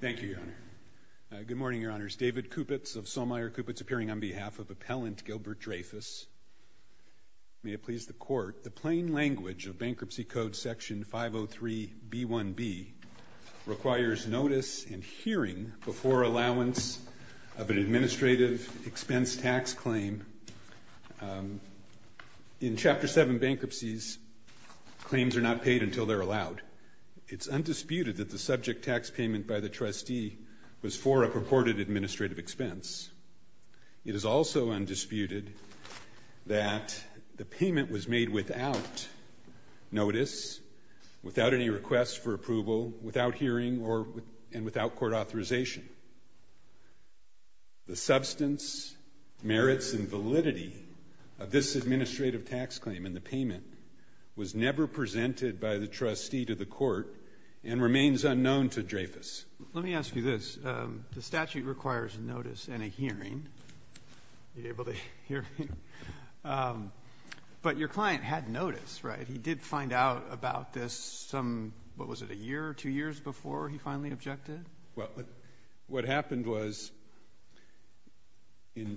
Thank you, Your Honor. Good morning, Your Honors. David Kupitz of Sommeyer Kupitz appearing on behalf of appellant Gilbert Dreyfuss. May it please the Court, the plain language of Bankruptcy Code Section 503B1B requires notice and hearing before allowance of an administrative expense tax claim. In Chapter 7 Bankruptcies, claims are not paid until they're allowed. It's undisputed that the subject tax payment by the trustee was for a purported administrative expense. It is also undisputed that the payment was made without notice, without any requests for approval, without hearing, and without court authorization. The substance, merits, and validity of this administrative tax claim and the payment was never presented by the trustee to the court and remains unknown to Dreyfuss. Let me ask you this. The statute requires notice and a hearing. Are you able to hear me? But your client had notice, right? He did find out about this some, what was it, a year or two years before he finally objected? Well, what happened was in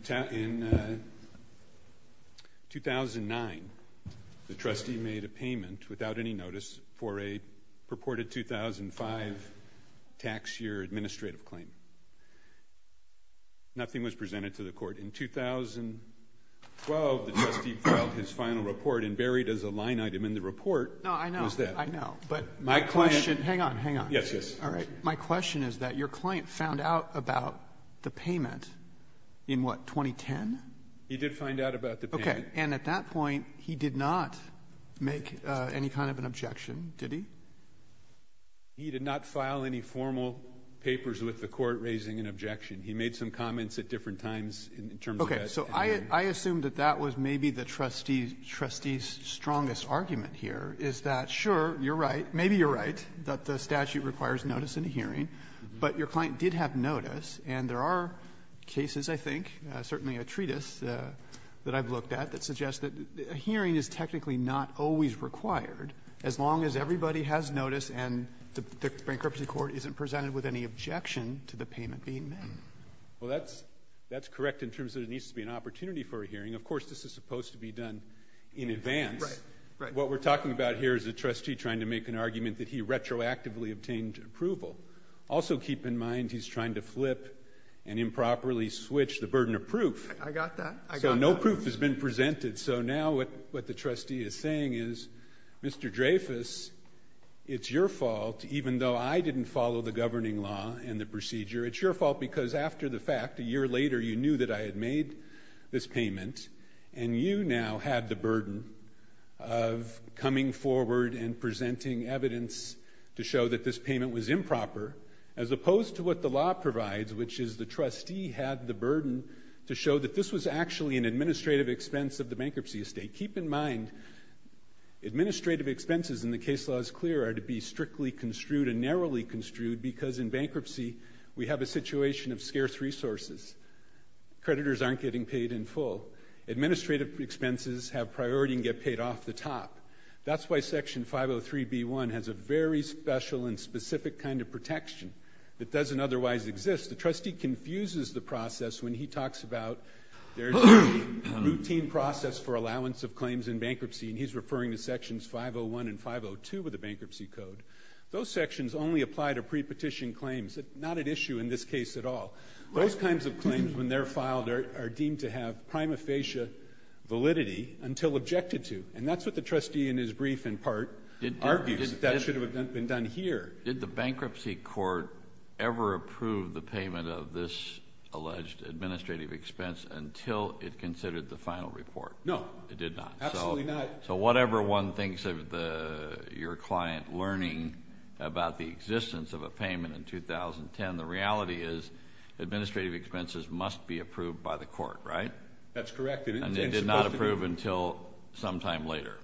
2009, the trustee made a payment without any notice for a purported 2005 tax year administrative claim. Nothing was presented to the court. In 2012, the trustee filed his final report and buried as a line item in the report was that. I know, but my question, hang on, hang on. Yes, yes. All right. My question is that your client found out about the payment in, what, 2010? He did find out about the payment. And at that point, he did not make any kind of an objection, did he? He did not file any formal papers with the court raising an objection. He made some comments at different times in terms of that. So I assume that that was maybe the trustee's strongest argument here is that, sure, you're right, that the statute requires notice in a hearing. But your client did have notice. And there are cases, I think, certainly a treatise that I've looked at, that suggest that a hearing is technically not always required as long as everybody has notice and the bankruptcy court isn't presented with any objection to the payment being made. Well, that's correct in terms of there needs to be an opportunity for a hearing. Of course, this is supposed to be done in advance. What we're talking about here is a trustee trying to make an argument that he retroactively obtained approval. Also keep in mind, he's trying to flip and improperly switch the burden of proof. I got that. I got that. So no proof has been presented. So now what the trustee is saying is, Mr. Dreyfus, it's your fault, even though I didn't follow the governing law and the procedure, it's your fault because after the fact, a year later, you knew that I had made this payment. And you now had the burden of coming forward and presenting evidence to show that this payment was improper, as opposed to what the law provides, which is the trustee had the burden to show that this was actually an administrative expense of the bankruptcy estate. Keep in mind, administrative expenses in the case law is clear are to be strictly construed and narrowly construed because in bankruptcy, we have a situation of scarce resources. Creditors aren't getting paid in full. Administrative expenses have priority and get paid off the top. That's why section 503b1 has a very special and specific kind of protection that doesn't otherwise exist. The trustee confuses the process when he talks about there's a routine process for allowance of claims in bankruptcy, and he's referring to sections 501 and 502 of the bankruptcy code. Those sections only apply to pre-petition claims, not at issue in this case at all. Those kinds of claims, when they're filed, are deemed to have prima facie validity until objected to. And that's what the trustee in his brief, in part, argues that should have been done here. Did the bankruptcy court ever approve the payment of this alleged administrative expense until it considered the final report? No. It did not. Absolutely not. So whatever one thinks of your client learning about the existence of a payment in 2010, the reality is administrative expenses must be approved by the court, right? That's correct. And they did not approve until some time later.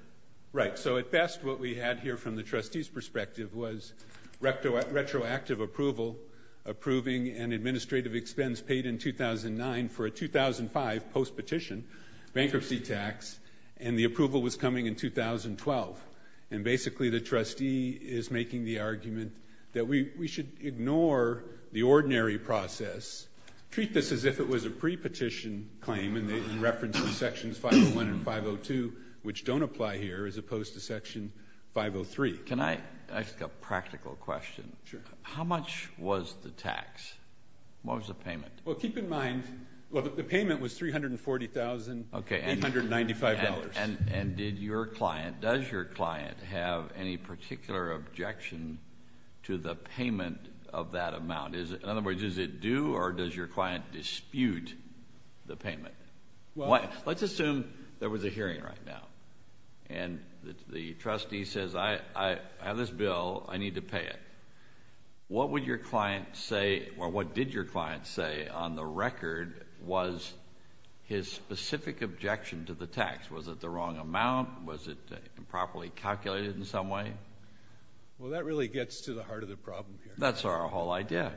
Right. So at best, what we had here from the trustee's perspective was retroactive approval, approving an administrative expense paid in 2009 for a 2005 post-petition bankruptcy tax, and the approval was coming in 2012. And basically, the trustee is making the argument that we should ignore the ordinary process, treat this as if it was a pre-petition claim in reference to Sections 501 and 502, which don't apply here, as opposed to Section 503. Can I ask a practical question? Sure. How much was the tax? What was the payment? Well, keep in mind, the payment was $340,895. And did your client, does your client have any particular objection to the payment of that amount? In other words, does it do, or does your client dispute the payment? Let's assume there was a hearing right now, and the trustee says, I have this bill. I need to pay it. What would your client say, or what did your client say on the record was his specific objection to the tax? Was it the wrong amount? Was it improperly calculated in some way? Well, that really gets to the heart of the problem here. That's our whole idea.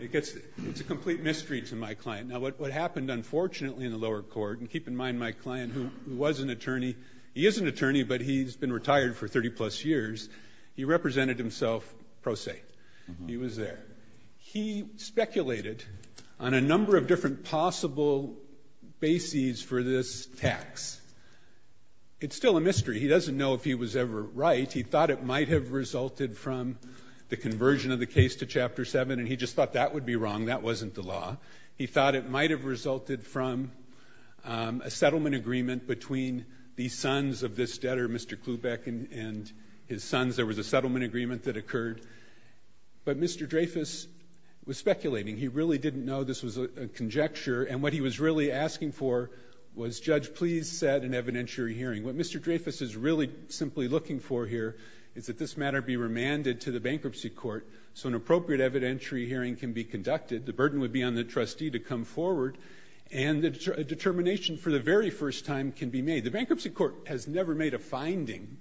It gets, it's a complete mystery to my client. Now, what happened, unfortunately, in the lower court, and keep in mind my client, who was an attorney, he is an attorney, but he's been retired for 30 plus years. He represented himself pro se. He was there. He speculated on a number of different possible bases for this tax. It's still a mystery. He doesn't know if he was ever right. He thought it might have resulted from the conversion of the case to Chapter 7, and he just thought that would be wrong. That wasn't the law. He thought it might have resulted from a settlement agreement between the sons of this debtor, Mr. Klubeck, and his sons. There was a settlement agreement that occurred. But Mr. Dreyfus was speculating. He really didn't know this was a conjecture. And what he was really asking for was, Judge, please set an evidentiary hearing. What Mr. Dreyfus is really simply looking for here is that this matter be remanded to the bankruptcy court so an appropriate evidentiary hearing can be conducted. The burden would be on the trustee to come forward, and a determination for the very first time can be made. The bankruptcy court has never made a finding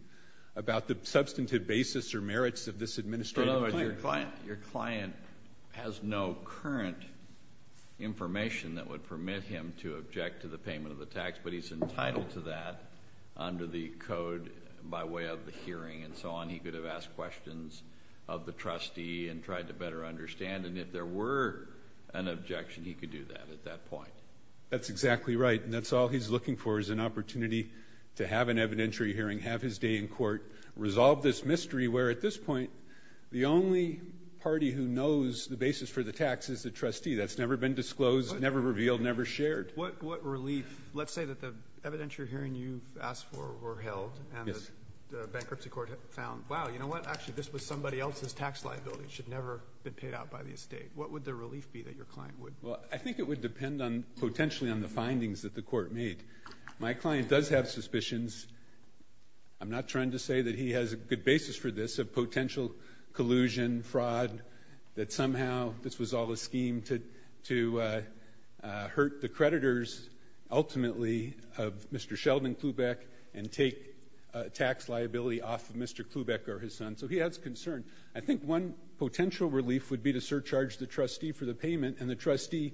about the substantive basis or merits of this administrative claim. Your client has no current information that would permit him to object to the payment of the tax, but he's entitled to that under the code by way of the hearing and so on. He could have asked questions of the trustee and tried to better understand. And if there were an objection, he could do that at that point. That's exactly right, and that's all he's looking for is an opportunity to have an evidentiary hearing, have his day in court, resolve this mystery where, at this point, the only party who knows the basis for the tax is the trustee. That's never been disclosed, never revealed, never shared. What relief. Let's say that the evidentiary hearing you asked for were held, and the bankruptcy court found, wow, you know what, actually, this was somebody else's tax liability. It should never have been paid out by the estate. What would the relief be that your client would? Well, I think it would depend potentially on the findings that the court made. My client does have suspicions. I'm not trying to say that he has a good basis for this, a potential collusion, fraud, that somehow this was all a scheme to hurt the creditors, ultimately, of Mr. Sheldon Klubeck, and take tax liability off of Mr. Klubeck or his son, so he has concern. I think one potential relief would be to surcharge the trustee for the payment, and the trustee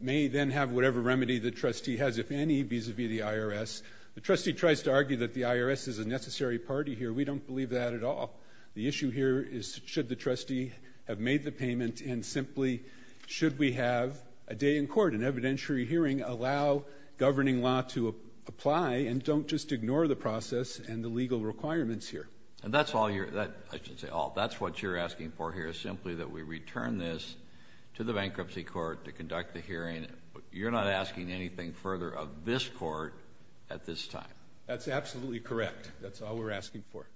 may then have whatever remedy the trustee has, if any, vis-a-vis the IRS. The trustee tries to argue that the IRS is a necessary party here. We don't believe that at all. The issue here is should the trustee have made the payment, and simply, should we have a day in court, an evidentiary hearing, allow governing law to apply, and don't just ignore the process and the legal requirements here? And that's all you're, I should say all, that's what you're asking for here, is simply that we return this to the bankruptcy court to conduct the hearing. You're not asking anything further of this court at this time. That's absolutely correct. That's all we're asking for.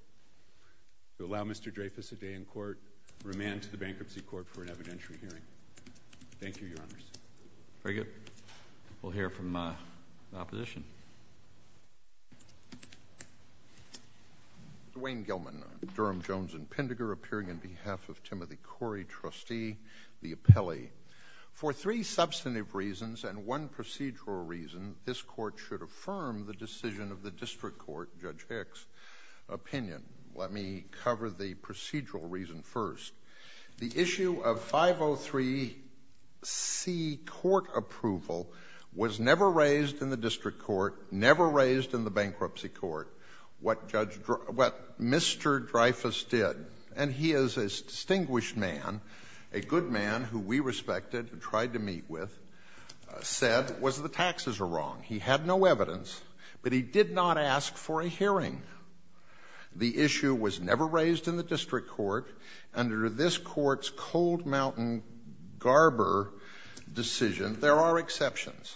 To allow Mr. Dreyfus a day in court, remand to the bankruptcy court for an evidentiary hearing. Thank you, Your Honors. Very good. We'll hear from the opposition. Dwayne Gilman, Durham, Jones, and Pindager, appearing on behalf of Timothy Corey, trustee, the appellee. For three substantive reasons and one procedural reason, this court should affirm the decision of the district court, Judge Hicks' opinion. Let me cover the procedural reason first. The issue of 503C, court approval, was never raised in the district court, never raised in the bankruptcy court, what Mr. Dreyfus did. And he is a distinguished man, a good man who we respected, who tried to meet with, said was the taxes are wrong. He had no evidence, but he did not ask for a hearing. The issue was never raised in the district court under this court's Cold Mountain Garber decision. There are exceptions,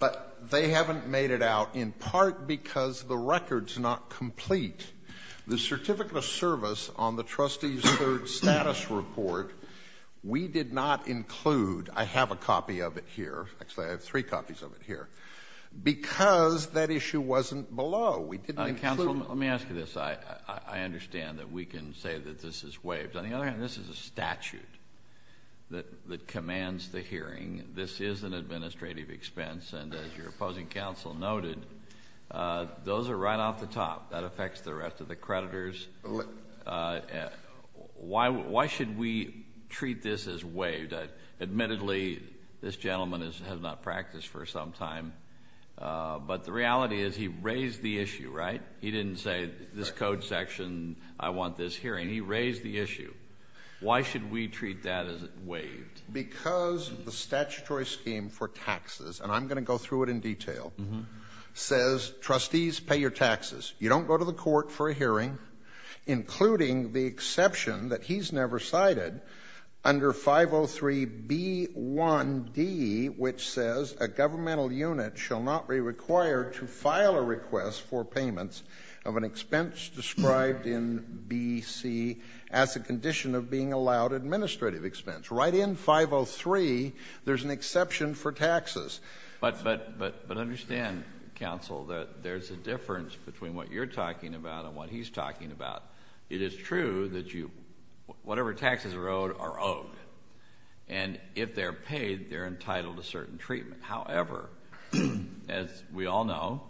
but they haven't made it out in part because the record's not complete. The certificate of service on the trustee's third status report, we did not include, I have a copy of it here, actually I have three copies of it here, because that issue wasn't below. We didn't include. Counsel, let me ask you this. I understand that we can say that this is waived. On the other hand, this is a statute that commands the hearing. This is an administrative expense, and as your opposing counsel noted, those are right off the top. That affects the rest of the creditors. Why should we treat this as waived? Admittedly, this gentleman has not practiced for some time, but the reality is he raised the issue, right? He didn't say this code section, I want this hearing. He raised the issue. Why should we treat that as waived? Because the statutory scheme for taxes, and I'm gonna go through it in detail, says trustees pay your taxes. You don't go to the court for a hearing, including the exception that he's never cited under 503B1D, which says a governmental unit shall not be required to file a request for payments of an expense described in BC as a condition of being allowed administrative expense. Right in 503, there's an exception for taxes. But understand, counsel, that there's a difference between what you're talking about and what he's talking about. It is true that whatever taxes are owed are owed, and if they're paid, they're entitled to certain treatment. However, as we all know,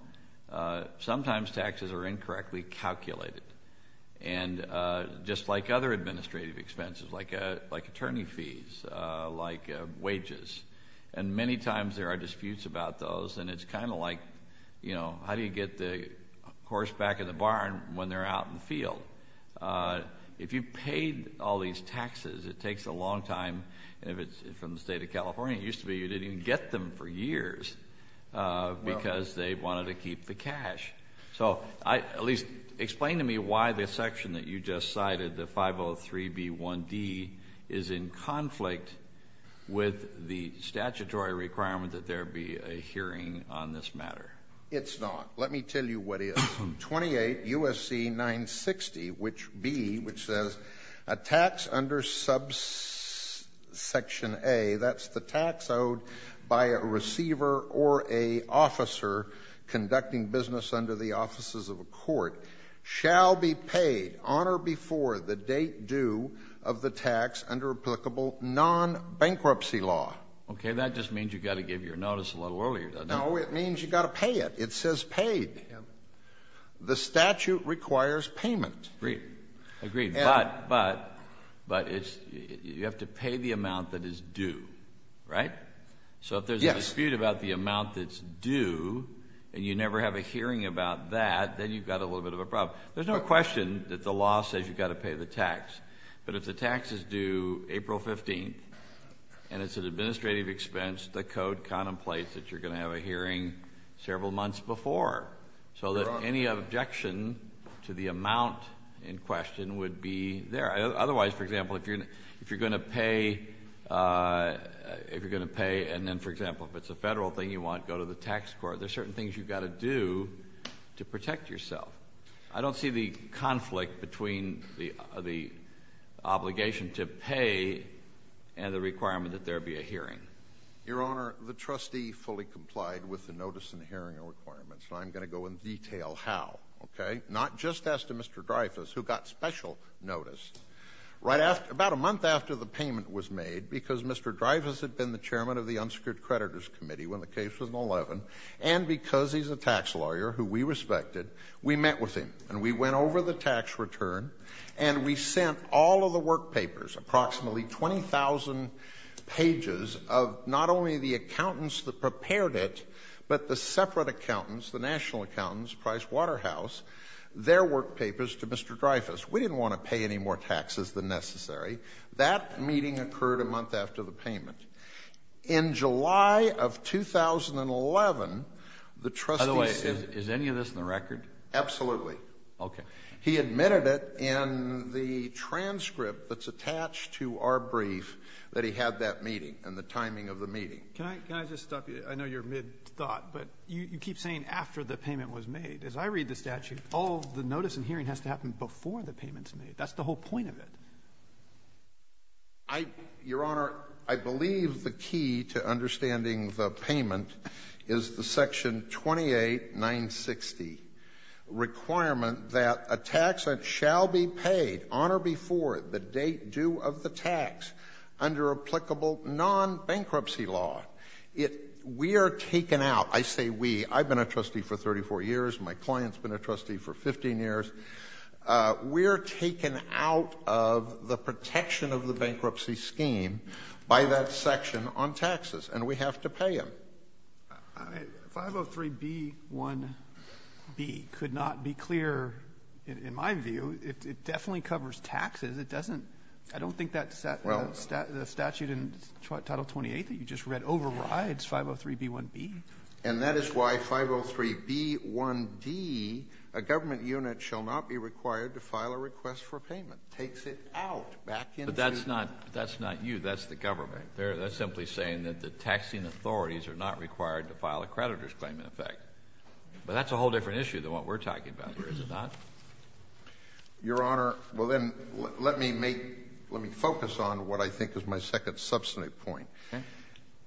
sometimes taxes are incorrectly calculated, and just like other administrative expenses, like attorney fees, like wages, and many times there are disputes about those, and it's kind of like, you know, how do you get the horse back in the barn when they're out in the field? If you paid all these taxes, it takes a long time, and if it's from the state of California, it used to be you didn't even get them for years because they wanted to keep the cash. So at least explain to me why the section that you just cited, the 503B1D, is in conflict with the statutory requirement that there be a hearing on this matter. It's not. Let me tell you what it is. 28 U.S.C. 960, which B, which says, a tax under subsection A, that's the tax owed by a receiver or a officer conducting business under the offices of a court, shall be paid on or before the date due of the tax under applicable non-bankruptcy law. Okay, that just means you gotta give your notice a little earlier, doesn't it? No, it means you gotta pay it. It says paid. The statute requires payment. Agreed, agreed. But you have to pay the amount that is due, right? So if there's a dispute about the amount that's due and you never have a hearing about that, then you've got a little bit of a problem. There's no question that the law says you gotta pay the tax. But if the tax is due April 15th and it's an administrative expense, the code contemplates that you're gonna have a hearing several months before. So that any objection to the amount in question would be there. Otherwise, for example, if you're gonna pay, if you're gonna pay and then, for example, if it's a federal thing you want, go to the tax court. There's certain things you've gotta do to protect yourself. I don't see the conflict between the obligation to pay and the requirement that there be a hearing. Your Honor, the trustee fully complied with the notice and hearing requirements. So I'm gonna go in detail how, okay? Not just as to Mr. Dreyfus, who got special notice. Right after, about a month after the payment was made, because Mr. Dreyfus had been the chairman of the Unsecured Creditors Committee when the case was in 11 and because he's a tax lawyer who we respected, we met with him and we went over the tax return and we sent all of the work papers, approximately 20,000 pages of not only the accountants that prepared it, but the separate accountants, the national accountants, Price Waterhouse, their work papers to Mr. Dreyfus. We didn't wanna pay any more taxes than necessary. That meeting occurred a month after the payment. In July of 2011, the trustee said- By the way, is any of this in the record? Absolutely. Okay. He admitted it in the transcript that's attached to our brief that he had that meeting and the timing of the meeting. Can I just stop you? I know you're mid-thought, but you keep saying after the payment was made. As I read the statute, all the notice and hearing has to happen before the payment's made. That's the whole point of it. Your Honor, I believe the key to understanding the payment is the section 28960, requirement that a tax shall be paid on or before the date due of the tax under applicable non-bankruptcy law. We are taken out. I've been a trustee for 34 years. My client's been a trustee for 15 years. We're taken out of the protection of the bankruptcy scheme by that section on taxes, and we have to pay them. 503b1b could not be clear, in my view. It definitely covers taxes. I don't think the statute in Title 28 that you just read overrides 503b1b. And that is why 503b1d, a government unit, shall not be required to file a request for payment. Takes it out, back into- But that's not you. That's the government. That's simply saying that the taxing authorities are not required to file a creditor's claim, in effect. But that's a whole different issue than what we're talking about here, is it not? Your Honor, well then, let me focus on what I think is my second substantive point.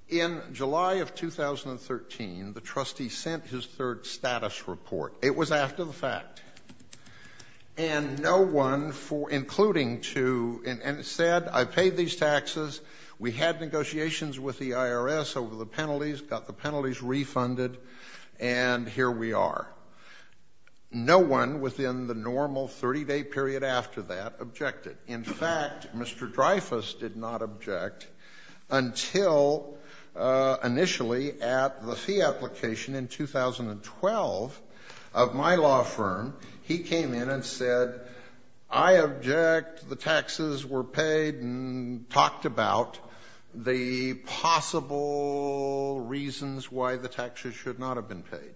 In July of 2013, the trustee sent his third status report. It was after the fact. And no one, including two, said, I paid these taxes, we had negotiations with the IRS over the penalties, got the penalties refunded, and here we are. No one within the normal 30-day period after that objected. In fact, Mr. Dreyfus did not object until initially at the fee application in 2012 of my law firm, he came in and said, I object, the taxes were paid, and talked about the possible reasons why the taxes should not have been paid.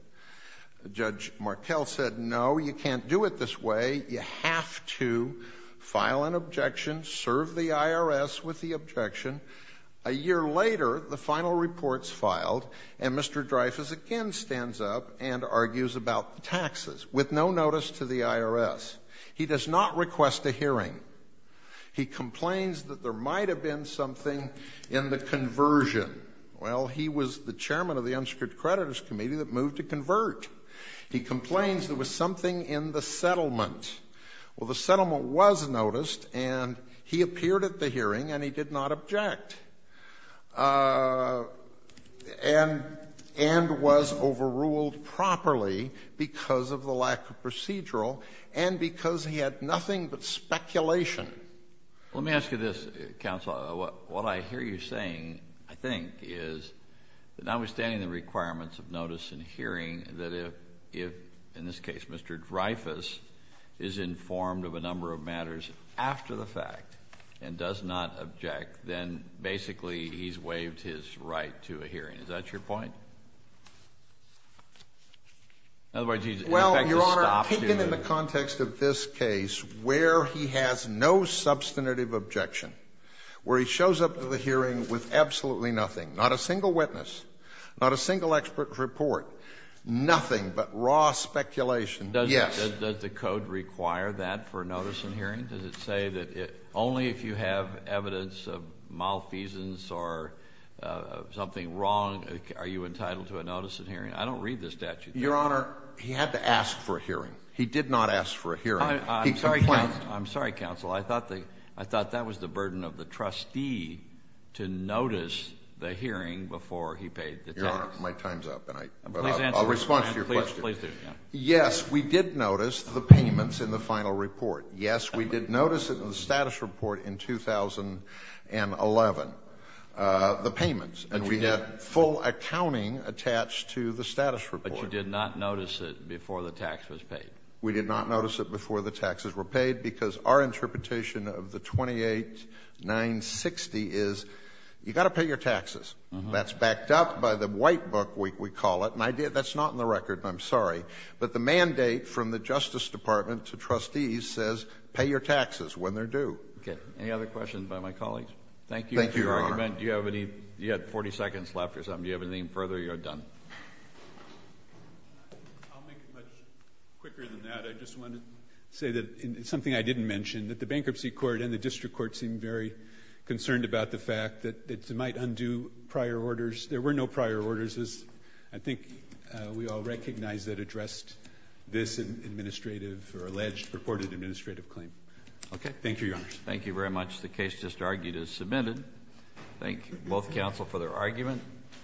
Judge Markell said, no, you can't do it this way. You have to file an objection, serve the IRS with the objection. A year later, the final report's filed, and Mr. Dreyfus again stands up and argues about taxes with no notice to the IRS. He does not request a hearing. He complains that there might have been something in the conversion. Well, he was the chairman of the Unsecured Creditors Committee that moved to convert. He complains there was something in the settlement. Well, the settlement was noticed, and he appeared at the hearing, and he did not object, and was overruled properly because of the lack of procedural and because he had nothing but speculation. Let me ask you this, counsel. What I hear you saying, I think, is that notwithstanding the requirements of notice and hearing, that if, in this case, Mr. Dreyfus is informed of a number of matters after the fact and does not object, then basically he's waived his right to a hearing. Is that your point? Otherwise, he's in effect to stop to the- Well, Your Honor, taken in the context of this case where he has no substantive objection, where he shows up to the hearing with absolutely nothing, not a single witness, not a single expert report, nothing but raw speculation, yes. Does the code require that for notice and hearing? Does it say that only if you have evidence of malfeasance or something wrong are you entitled to a notice and hearing? I don't read the statute. Your Honor, he had to ask for a hearing. He did not ask for a hearing. He complained- I'm sorry, counsel. I thought that was the burden of the trustee Your Honor, my time's up, and I- I'll respond to your question. Yes, we did notice the payments in the final report. Yes, we did notice it in the status report in 2011, the payments, and we had full accounting attached to the status report. But you did not notice it before the tax was paid? We did not notice it before the taxes were paid because our interpretation of the 28960 is you gotta pay your taxes. That's backed up by the white book, we call it, that's not in the record, I'm sorry. But the mandate from the Justice Department to trustees says pay your taxes when they're due. Okay, any other questions by my colleagues? Thank you. Thank you, Your Honor. Do you have any, you had 40 seconds left or something. Do you have anything further, you're done. I'll make it much quicker than that. I just wanted to say that, and it's something I didn't mention, that the bankruptcy court and the district court seemed very concerned about the fact that they might undo prior orders. There were no prior orders. I think we all recognize that addressed this administrative or alleged purported administrative claim. Okay. Thank you, Your Honor. Thank you very much. The case just argued is submitted. Thank both counsel for their argument.